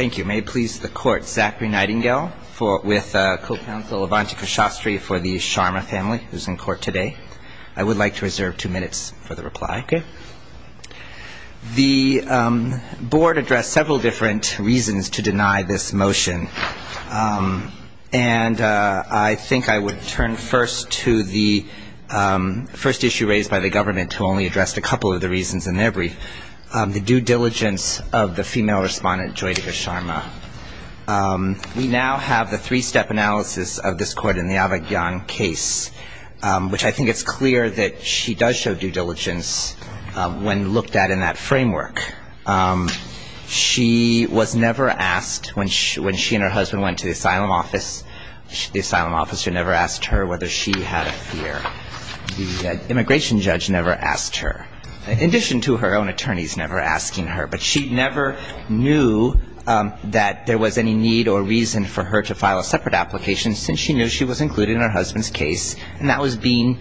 Thank you. May it please the Court, Zachary Nightingale with Co-Counsel Avantika Shastri for the Sharma family who is in court today. I would like to reserve two minutes for the reply. Okay. The Board addressed several different reasons to deny this motion, and I think I would turn first to the first issue raised by the government to only address a couple of the reasons in their brief. The due diligence of the female respondent, Joytika Sharma. We now have the three-step analysis of this court in the Avakyan case, which I think it's clear that she does show due diligence when looked at in that framework. She was never asked when she and her husband went to the asylum office, the asylum officer never asked her whether she had a fear. The immigration judge never asked her, in addition to her own attorneys never asking her. But she never knew that there was any need or reason for her to file a separate application since she knew she was included in her husband's case, and that was being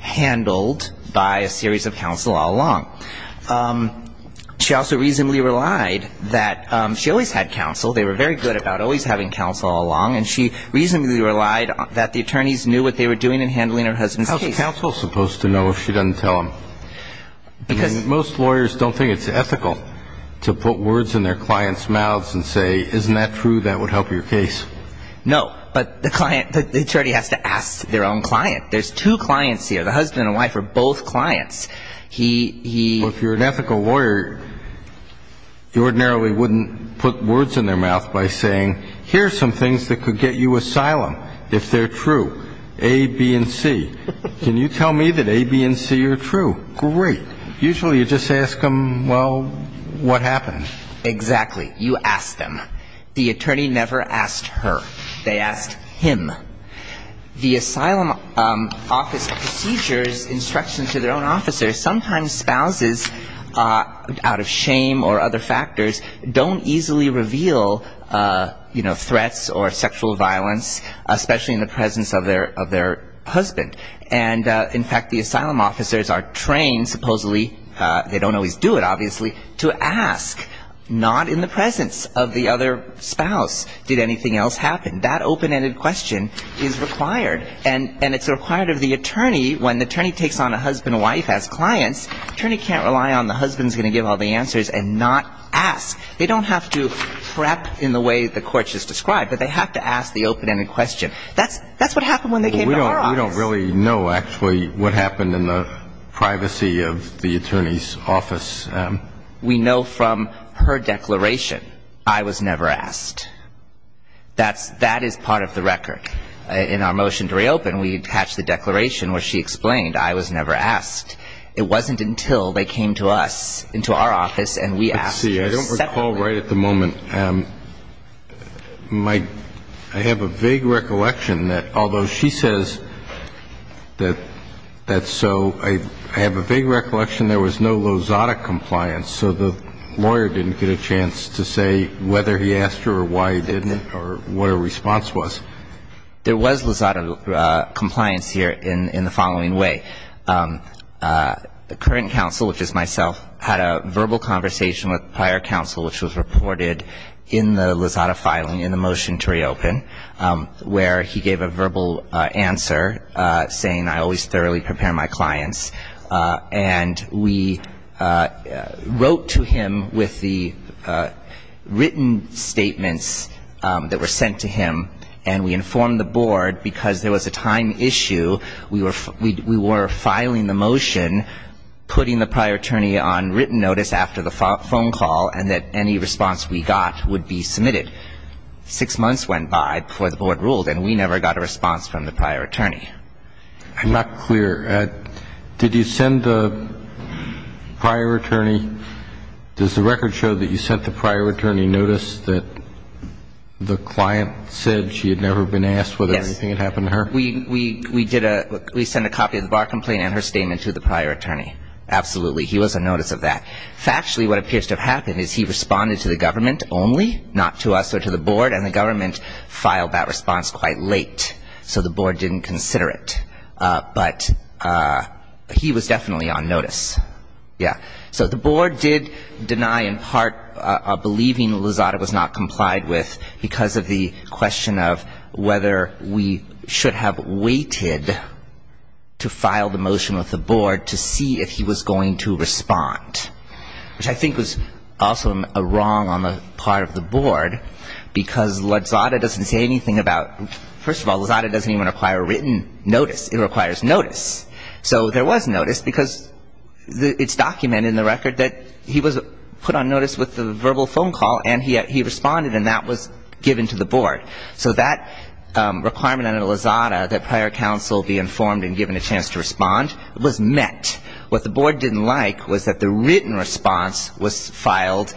handled by a series of counsel all along. She also reasonably relied that she always had counsel, they were very good about always having counsel all along, and she reasonably relied that the attorneys knew what they were doing in handling her husband's case. How is counsel supposed to know if she doesn't tell them? Because most lawyers don't think it's ethical to put words in their clients' mouths and say, isn't that true, that would help your case. No, but the client, the attorney has to ask their own client. There's two clients here, the husband and wife are both clients. He he Well, if you're an ethical lawyer, you ordinarily wouldn't put words in their mouth by saying, here are some things that could get you asylum if they're true, A, B, and C. Can you tell me that A, B, and C are true? Great. Usually you just ask them, well, what happened? Exactly. You ask them. The attorney never asked her. They asked him. The asylum office procedures, instructions to their own officers, sometimes spouses out of shame or other factors don't easily reveal, you know, threats or sexual violence, especially in the presence of their husband. And in fact, the asylum officers are trained, supposedly, they don't always do it, obviously, to ask, not in the presence of the other spouse, did anything else happen? That open-ended question is required. And it's required of the attorney when the attorney takes on a husband and wife as clients. The attorney can't rely on the husband's going to give all the answers and not ask. They don't have to prep in the way the court just described, but they have to ask the open-ended question. That's what happened when they came to our office. We don't really know, actually, what happened in the privacy of the attorney's office. We know from her declaration, I was never asked. That is part of the record. In our motion to reopen, we attach the declaration where she explained I was never asked. It wasn't until they came to us, into our office, and we asked her separately. I see. I don't recall right at the moment. I have a vague recollection that although she says that so, I have a vague recollection there was no Lozada compliance, so the lawyer didn't get a chance to say whether he asked her or why he didn't or what her response was. There was Lozada compliance here in the following way. The current counsel, which is myself, had a verbal conversation with prior counsel, which was reported in the Lozada filing in the motion to reopen, where he gave a verbal answer, saying I always thoroughly prepare my clients. And we wrote to him with the written statements that were sent to him, and we informed the board because there was a time issue. We were filing the motion, putting the prior attorney on written notice after the phone call, and that any response we got would be submitted. Six months went by before the board ruled, and we never got a response from the prior attorney. I'm not clear. Did you send the prior attorney, does the record show that you sent the prior attorney notice that the client said she had never been asked whether anything had happened to her? Yes. We did a, we sent a copy of the bar complaint and her statement to the prior attorney. Absolutely. He was on notice of that. Factually, what appears to have happened is he responded to the government only, not to us or to the board, and the government filed that response quite late, so the board didn't consider it. But he was definitely on notice. Yeah. So the board did deny in part a believing Lozada was not complied with because of the question of whether we should have waited to file the motion with the board to see if he was going to respond, which I think was also a wrong on the part of the board because Lozada doesn't say anything about, first of all, Lozada doesn't even require written notice. It requires notice. So there was notice because it's documented in the record that he was put on notice with the verbal phone call and he responded and that was given to the board. So that requirement under Lozada that prior counsel be informed and given a chance to respond was met. What the board didn't like was that the written response was filed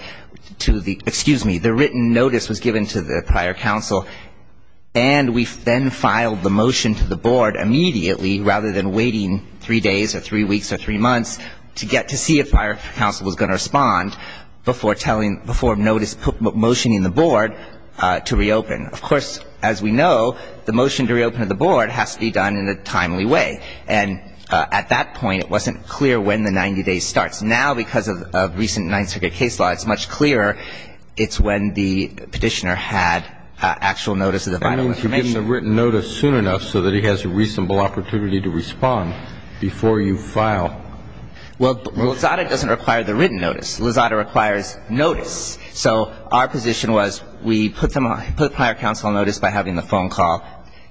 to the, excuse me, the written notice was given to the prior counsel, and we then filed the motion to the board immediately rather than waiting three days or three weeks or three months to get to see if prior counsel was going to respond before telling, before notice, motioning the board to reopen. Of course, as we know, the motion to reopen to the board has to be done in a timely way. And at that point, it wasn't clear when the 90 days starts. Now, because of recent Ninth Circuit case law, it's much clearer. It's when the petitioner had actual notice of the vital information. I know you're giving the written notice soon enough so that he has a reasonable opportunity to respond before you file. Well, Lozada doesn't require the written notice. Lozada requires notice. So our position was we put prior counsel on notice by having the phone call,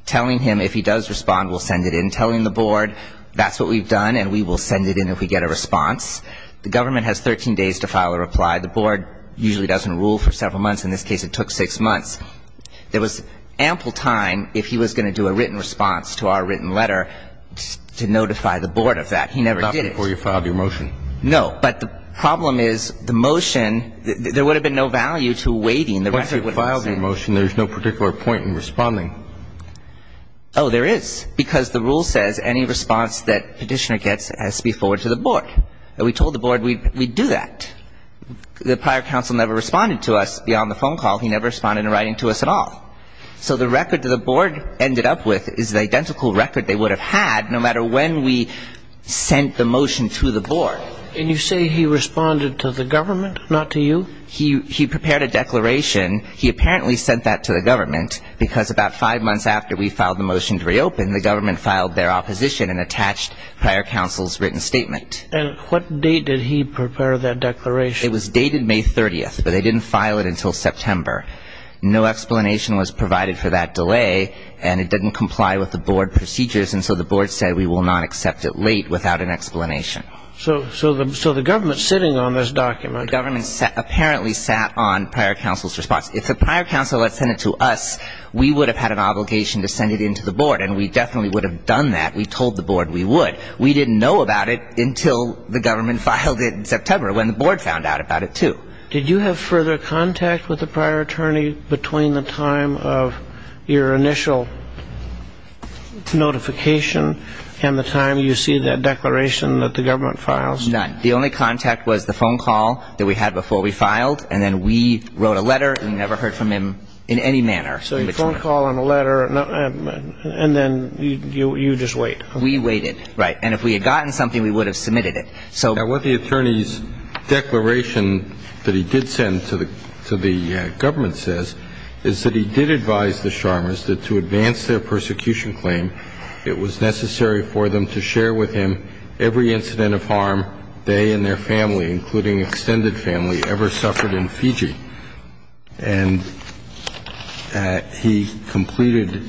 telling him if he does respond we'll send it in, telling the board that's what we've done and we will send it in if we get a response. The government has 13 days to file a reply. The board usually doesn't rule for several months. In this case, it took six months. There was ample time if he was going to do a written response to our written letter to notify the board of that. He never did it. Not before you filed your motion. No. But the problem is the motion, there would have been no value to waiting. Once you've filed your motion, there's no particular point in responding. Oh, there is. Because the rule says any response that Petitioner gets has to be forwarded to the board. And we told the board we'd do that. The prior counsel never responded to us beyond the phone call. He never responded in writing to us at all. So the record that the board ended up with is the identical record they would have had no matter when we sent the motion to the board. And you say he responded to the government, not to you? He prepared a declaration. He apparently sent that to the government because about five months after we filed the motion to reopen, the government filed their opposition and attached prior counsel's written statement. And what date did he prepare that declaration? It was dated May 30th, but they didn't file it until September. No explanation was provided for that delay, and it didn't comply with the board procedures, and so the board said we will not accept it late without an explanation. So the government sitting on this document. The government apparently sat on prior counsel's response. If the prior counsel had sent it to us, we would have had an obligation to send it in to the board, and we definitely would have done that. We told the board we would. We didn't know about it until the government filed it in September when the board found out about it, too. Did you have further contact with the prior attorney between the time of your initial notification and the time you see that declaration that the government files? None. The only contact was the phone call that we had before we filed, and then we wrote a letter and never heard from him in any manner. So a phone call and a letter, and then you just wait. We waited. Right. And if we had gotten something, we would have submitted it. Now, what the attorney's declaration that he did send to the government says is that he did advise the Chalmers that to advance their persecution claim, it was necessary for them to share with him every incident of harm they and their family, including extended family, ever suffered in Fiji. And he completed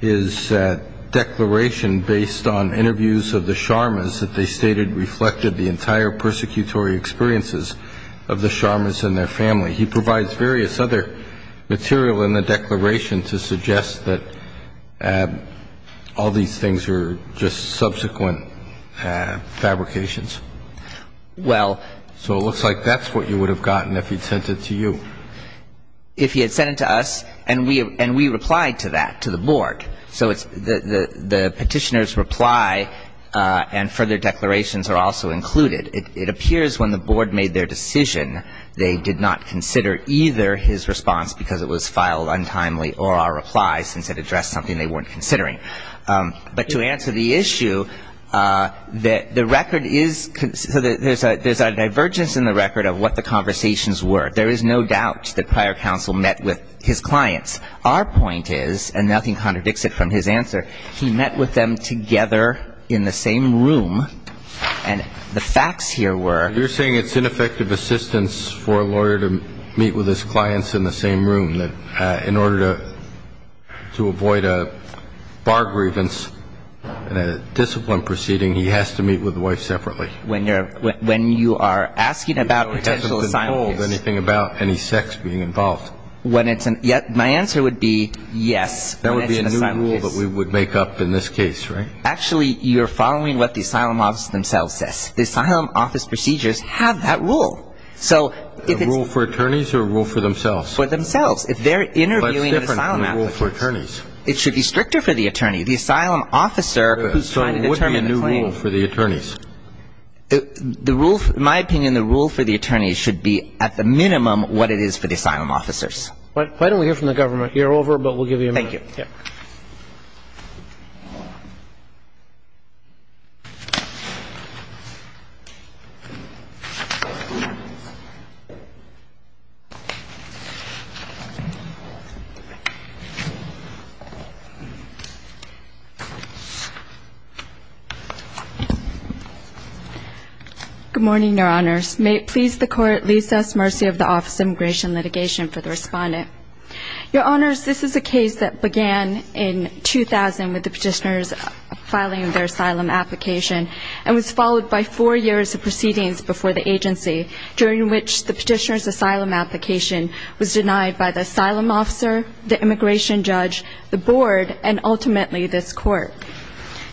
his declaration based on interviews of the Chalmers that they stated reflected the entire persecutory experiences of the Chalmers and their family. He provides various other material in the declaration to suggest that all these things are just subsequent fabrications. Well. So it looks like that's what you would have gotten if he'd sent it to you. If he had sent it to us, and we replied to that, to the board. So the petitioner's reply and further declarations are also included. It appears when the board made their decision, they did not consider either his response, because it was filed untimely, or our replies, since it addressed something they weren't considering. But to answer the issue, the record is so that there's a divergence in the record of what the conversations were. There is no doubt that prior counsel met with his clients. Our point is, and nothing contradicts it from his answer, he met with them together in the same room, and the facts here were. You're saying it's ineffective assistance for a lawyer to meet with his clients in the same room, that in order to avoid a bar grievance and a discipline proceeding, he has to meet with the wife separately. When you are asking about potential asylum case. So he doesn't control anything about any sex being involved. My answer would be yes. That would be a new rule that we would make up in this case, right? Actually, you're following what the asylum office themselves says. The asylum office procedures have that rule. So if it's. A rule for attorneys or a rule for themselves? For themselves. But it's different from a rule for attorneys. It should be stricter for the attorney. The asylum officer who's trying to determine the claim. So what would be a new rule for the attorneys? The rule, in my opinion, the rule for the attorneys should be at the minimum what it is for the asylum officers. Why don't we hear from the government? You're over, but we'll give you a minute. Thank you. Yeah. Good morning, Your Honors. May it please the Court, lease us mercy of the Office of Immigration Litigation for the respondent. Your Honors, this is a case that began in 2000 with the petitioners filing their asylum application and was followed by four years of proceedings before the agency, during which the petitioner's asylum application was denied by the asylum officer, the immigration judge, the board, and ultimately this Court.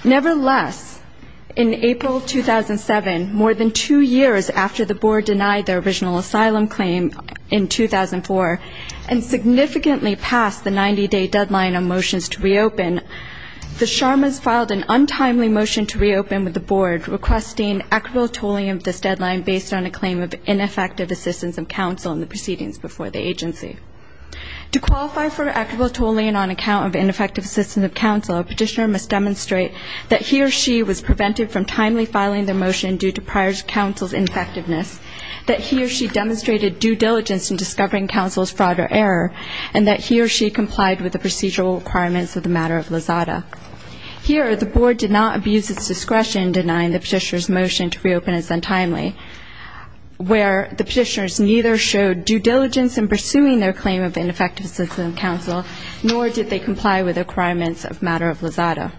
Nevertheless, in April 2007, more than two years after the board denied their original asylum claim in 2004, and significantly past the 90-day deadline on motions to reopen, the Sharmas filed an untimely motion to reopen with the board requesting equitable tolling of this deadline based on a claim of ineffective assistance of counsel in the proceedings before the agency. To qualify for equitable tolling on account of ineffective assistance of counsel, a petitioner must demonstrate that he or she was prevented from timely filing their motion due to prior counsel's ineffectiveness, that he or she demonstrated due diligence in discovering counsel's fraud or error, and that he or she complied with the procedural requirements of the matter of LOSADA. Here, the board did not abuse its discretion in denying the petitioner's motion to reopen as untimely, where the petitioners neither showed due diligence in pursuing their claim of ineffective assistance of counsel, nor did they comply with the requirements of matter of LOSADA.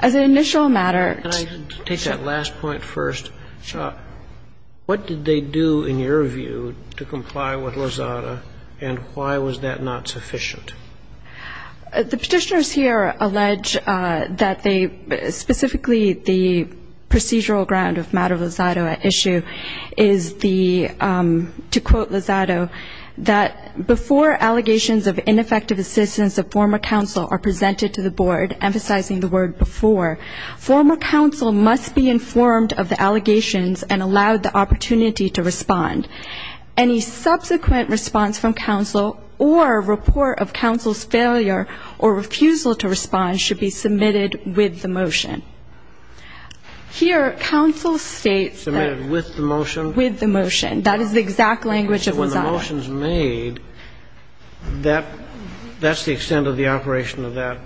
As an initial matter to take that last point first, what did they do in your view to comply with LOSADA, and why was that not sufficient? The petitioners here allege that they specifically the procedural ground of matter of LOSADA issue is the, to quote LOSADA, that before allegations of ineffective assistance of former counsel are presented to the board, emphasizing the word before, former counsel must be informed of the allegations and allowed the opportunity to respond. Any subsequent response from counsel or report of counsel's failure or refusal to respond should be submitted with the motion. Here, counsel states that... Submitted with the motion? With the motion. That is the exact language of LOSADA. If the motion is made, that's the extent of the operation of that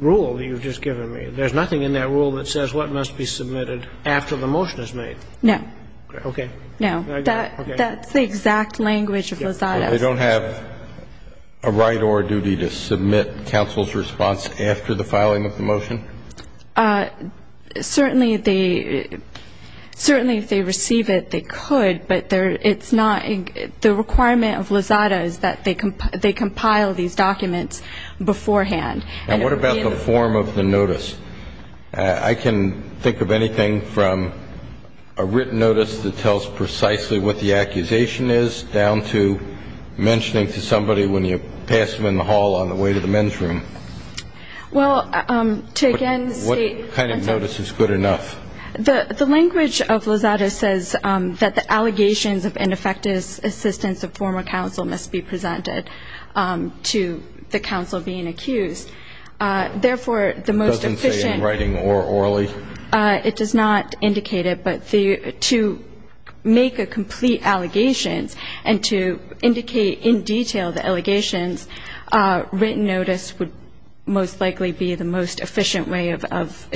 rule that you've just given me. There's nothing in that rule that says what must be submitted after the motion is made. No. Okay. That's the exact language of LOSADA. They don't have a right or a duty to submit counsel's response after the filing of the motion? Certainly, if they receive it, they could, but it's not the requirement of LOSADA is that they compile these documents beforehand. And what about the form of the notice? I can think of anything from a written notice that tells precisely what the accusation is down to mentioning to somebody when you pass them in the hall on the way to the men's room. Well, to again state... What kind of notice is good enough? The language of LOSADA says that the allegations of ineffective assistance of former counsel must be presented to the counsel being accused. Therefore, the most efficient... It doesn't say in writing or orally? It does not indicate it. But to make a complete allegations and to indicate in detail the allegations, written notice would most likely be the most efficient way of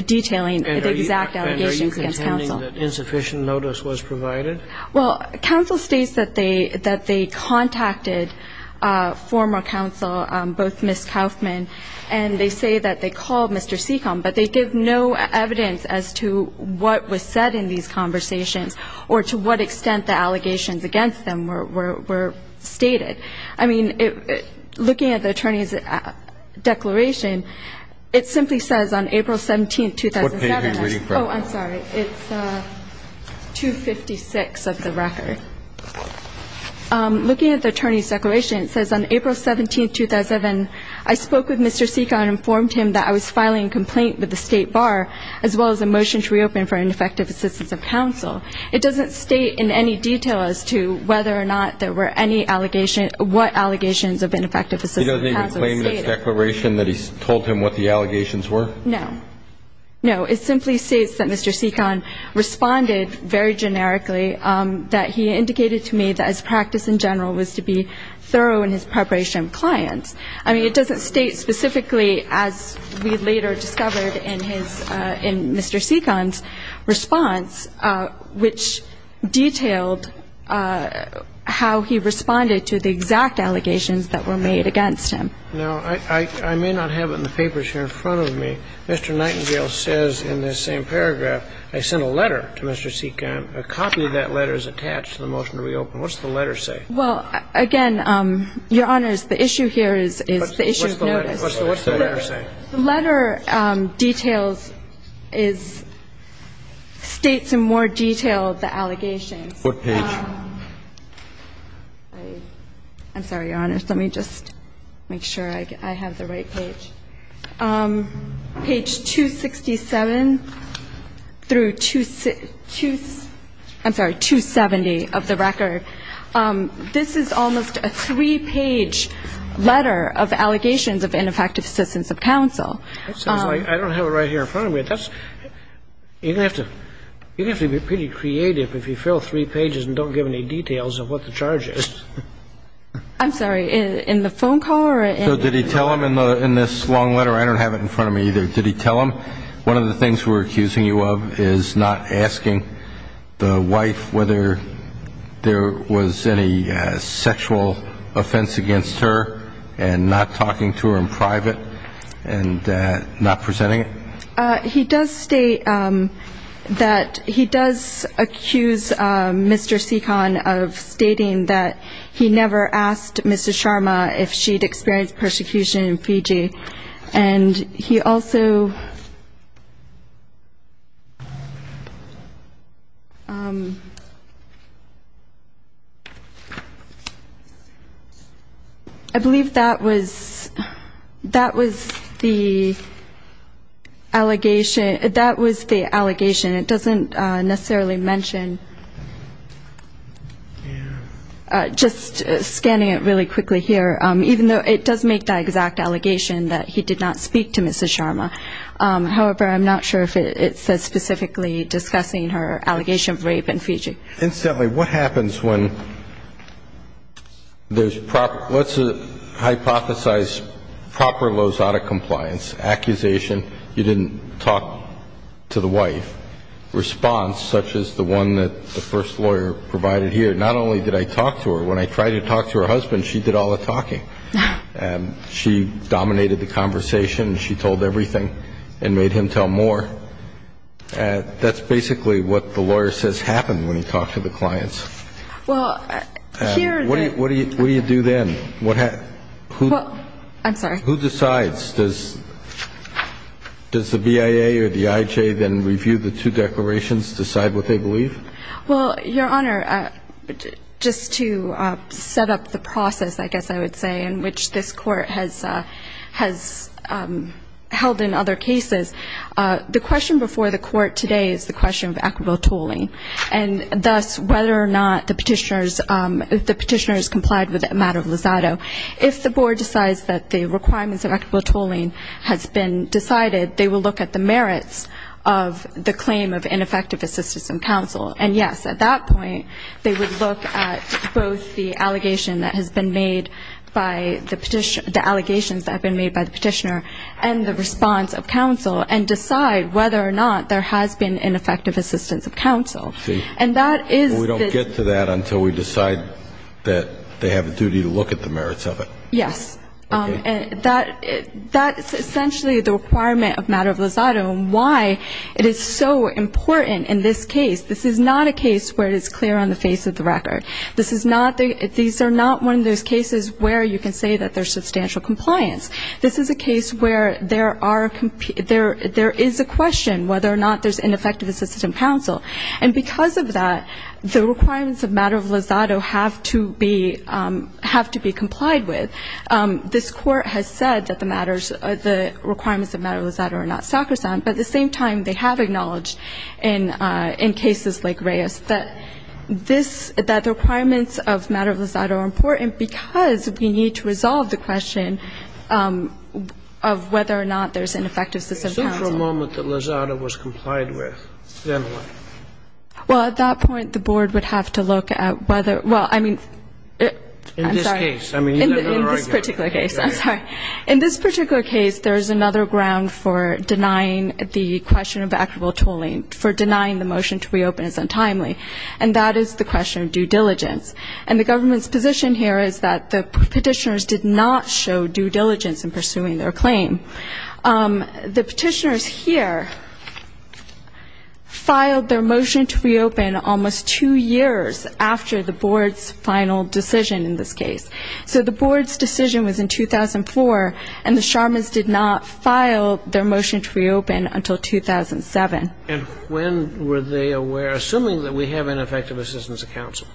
detailing the exact allegations against counsel. And are you contending that insufficient notice was provided? Well, counsel states that they contacted former counsel, both Ms. Kaufman, and they say that they called Mr. Seacombe, but they give no evidence as to what was said in these conversations or to what extent the allegations against them were stated. I mean, looking at the attorney's declaration, it simply says on April 17, 2007... What page are you reading from? Oh, I'm sorry. It's 256 of the record. Looking at the attorney's declaration, it says on April 17, 2007, I spoke with Mr. Seacombe and informed him that I was filing a complaint with the State Bar as well as a motion to reopen for ineffective assistance of counsel. It doesn't state in any detail as to whether or not there were any allegations, what allegations of ineffective assistance of counsel were stated. It doesn't even claim the declaration that he told him what the allegations were? No. No. It simply states that Mr. Seacombe responded very generically that he indicated to me that his practice in general was to be thorough in his preparation of clients. I mean, it doesn't state specifically, as we later discovered in Mr. Seacombe's response, which detailed how he responded to the exact allegations that were made against him. Now, I may not have it in the papers here in front of me. Mr. Nightingale says in this same paragraph, I sent a letter to Mr. Seacombe. A copy of that letter is attached to the motion to reopen. What does the letter say? Well, again, Your Honors, the issue here is the issue of notice. What's the letter say? The letter details is states in more detail the allegations. What page? I'm sorry, Your Honors. Let me just make sure I have the right page. Page 267 through 270 of the record. This is almost a three-page letter of allegations of ineffective assistance of counsel. I don't have it right here in front of me. You're going to have to be pretty creative if you fill three pages and don't give any details of what the charge is. I'm sorry. So did he tell him in this long letter? I don't have it in front of me either. Did he tell him one of the things we're accusing you of is not asking the wife whether there was any sexual offense against her and not talking to her in private and not presenting it? He does state that he does accuse Mr. Seekon of stating that he never asked Mr. Sharma if she'd experienced persecution in Fiji, and he also, I believe that was the allegation. It doesn't necessarily mention, just scanning it really quickly here, even though it does make the exact allegation that he did not speak to Mr. Sharma. However, I'm not sure if it says specifically discussing her allegation of rape in Fiji. Incidentally, what happens when there's proper, let's hypothesize proper Lozada compliance, accusation you didn't talk to the wife, response such as the one that the first lawyer provided here, not only did I talk to her, when I tried to talk to her husband, she did all the talking. She dominated the conversation. She told everything and made him tell more. That's basically what the lawyer says happened when he talked to the clients. What do you do then? I'm sorry. Who decides? Does the BIA or the IJ then review the two declarations, decide what they believe? Well, Your Honor, just to set up the process, I guess I would say, in which this court has held in other cases, the question before the court today is the question of equitable tolling and thus whether or not the petitioner has complied with a matter of Lozada. If the board decides that the requirements of equitable tolling has been decided, they will look at the merits of the claim of ineffective assistance of counsel. And, yes, at that point, they would look at both the allegation that has been made by the petitioner, the allegations that have been made by the petitioner, and the response of counsel and decide whether or not there has been ineffective assistance of counsel. See, we don't get to that until we decide that they have a duty to look at the merits of it. Yes. Okay. That's essentially the requirement of matter of Lozada and why it is so important in this case. This is not a case where it is clear on the face of the record. This is not the ñ these are not one of those cases where you can say that there's substantial compliance. This is a case where there are ñ there is a question whether or not there's ineffective assistance of counsel. And because of that, the requirements of matter of Lozada have to be ñ have to be complied with. This Court has said that the matters ñ the requirements of matter of Lozada are not sacrosanct. But at the same time, they have acknowledged in cases like Reyes that this ñ that the requirements of matter of Lozada are important because we need to resolve the question of whether or not there's ineffective assistance of counsel. So for a moment, the Lozada was complied with. Then what? Well, at that point, the board would have to look at whether ñ well, I mean ñ I'm sorry. In this particular case, there is another ground for denying the question of equitable tooling, for denying the motion to reopen is untimely, and that is the question of due diligence. And the government's position here is that the Petitioners did not show due diligence in pursuing their claim. The Petitioners here filed their motion to reopen almost two years after the board's final decision in this case. So the board's decision was in 2004, and the Sharmas did not file their motion to reopen until 2007. And when were they aware ñ assuming that we have ineffective assistance of counsel.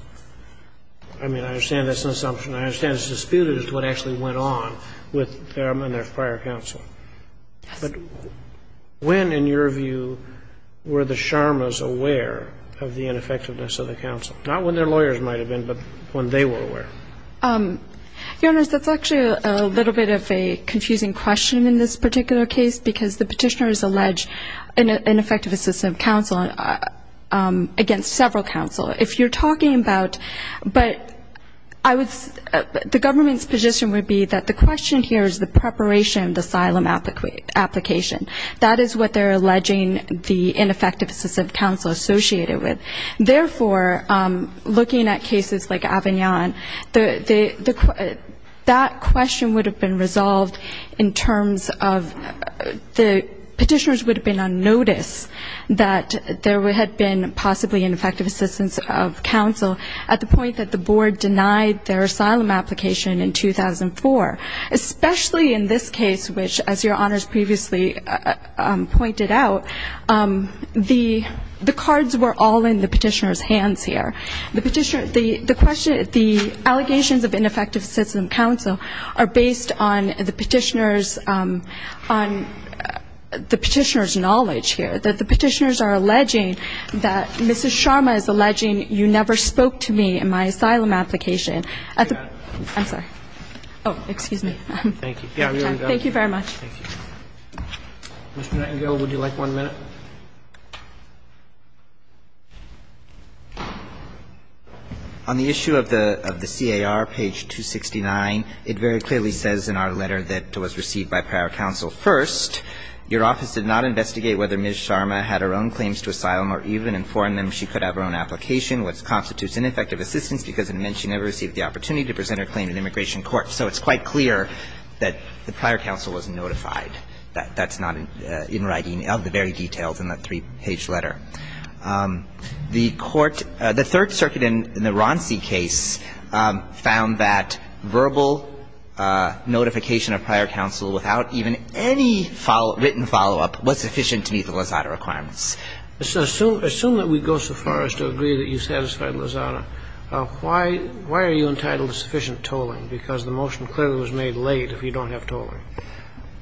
I mean, I understand that's an assumption. I understand it's disputed as to what actually went on with them and their prior counsel. Yes. But when, in your view, were the Sharmas aware of the ineffectiveness of the counsel? Not when their lawyers might have been, but when they were aware. Your Honors, that's actually a little bit of a confusing question in this particular case because the Petitioners allege ineffective assistance of counsel against several counsel. If you're talking about ñ but I would ñ the government's position would be that the question here is the preparation of the asylum application. That is what they're alleging the ineffective assistance of counsel associated with. Therefore, looking at cases like Avignon, that question would have been resolved in terms of the Petitioners would have been on notice that there had been possibly ineffective assistance of counsel at the point that the board denied their asylum application in 2004. Especially in this case, which, as Your Honors previously pointed out, the cards were all in the Petitioner's hands here. The Petitioner ñ the allegations of ineffective assistance of counsel are based on the Petitioner's ñ on the Petitioner's knowledge here, that the Petitioners are alleging that Mrs. Sharma is alleging you never spoke to me in my asylum application. I'm sorry. Oh, excuse me. Thank you. Thank you very much. Mr. Nightingale, would you like one minute? On the issue of the C.A.R., page 269, it very clearly says in our letter that was received by prior counsel, first, your office did not investigate whether Ms. Sharma had her own claims to asylum or even informed them she could have her own application, which constitutes ineffective assistance because it meant she never received the opportunity to present her claim in immigration court. So it's quite clear that the prior counsel was notified. That's not in writing of the very details in that three-page letter. The court ñ the Third Circuit in the Ronci case found that verbal notification of prior counsel without even any written follow-up was sufficient to meet the Lozada requirements. Assume that we go so far as to agree that you satisfied Lozada. Why are you entitled to sufficient tolling? Because the motion clearly was made late if you don't have tolling.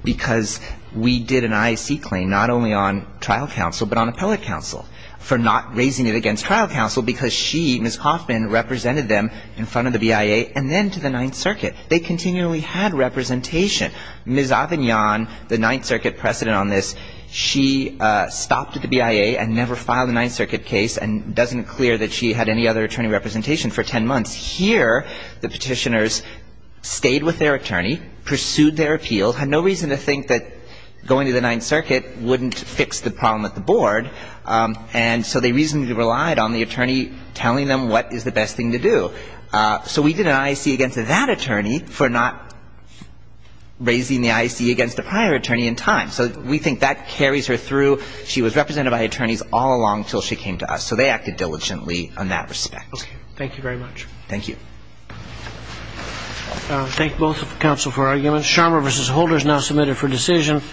Because we did an I.C. claim not only on trial counsel but on appellate counsel for not raising it against trial counsel because she, Ms. Hoffman, represented them in front of the BIA and then to the Ninth Circuit. They continually had representation. Ms. Avignon, the Ninth Circuit precedent on this, she stopped at the BIA and never filed a Ninth Circuit case and doesn't clear that she had any other attorney representation for ten months. Here, the Petitioners stayed with their attorney, pursued their appeal, had no reason to think that going to the Ninth Circuit wouldn't fix the problem at the board, and so they reasonably relied on the attorney telling them what is the best thing to do. So we did an I.C. against that attorney for not raising the I.C. against a prior attorney in time. So we think that carries her through. She was represented by attorneys all along until she came to us. So they acted diligently in that respect. Thank you very much. Thank you. I thank both counsel for arguments. Scharmer v. Holder is now submitted for decision.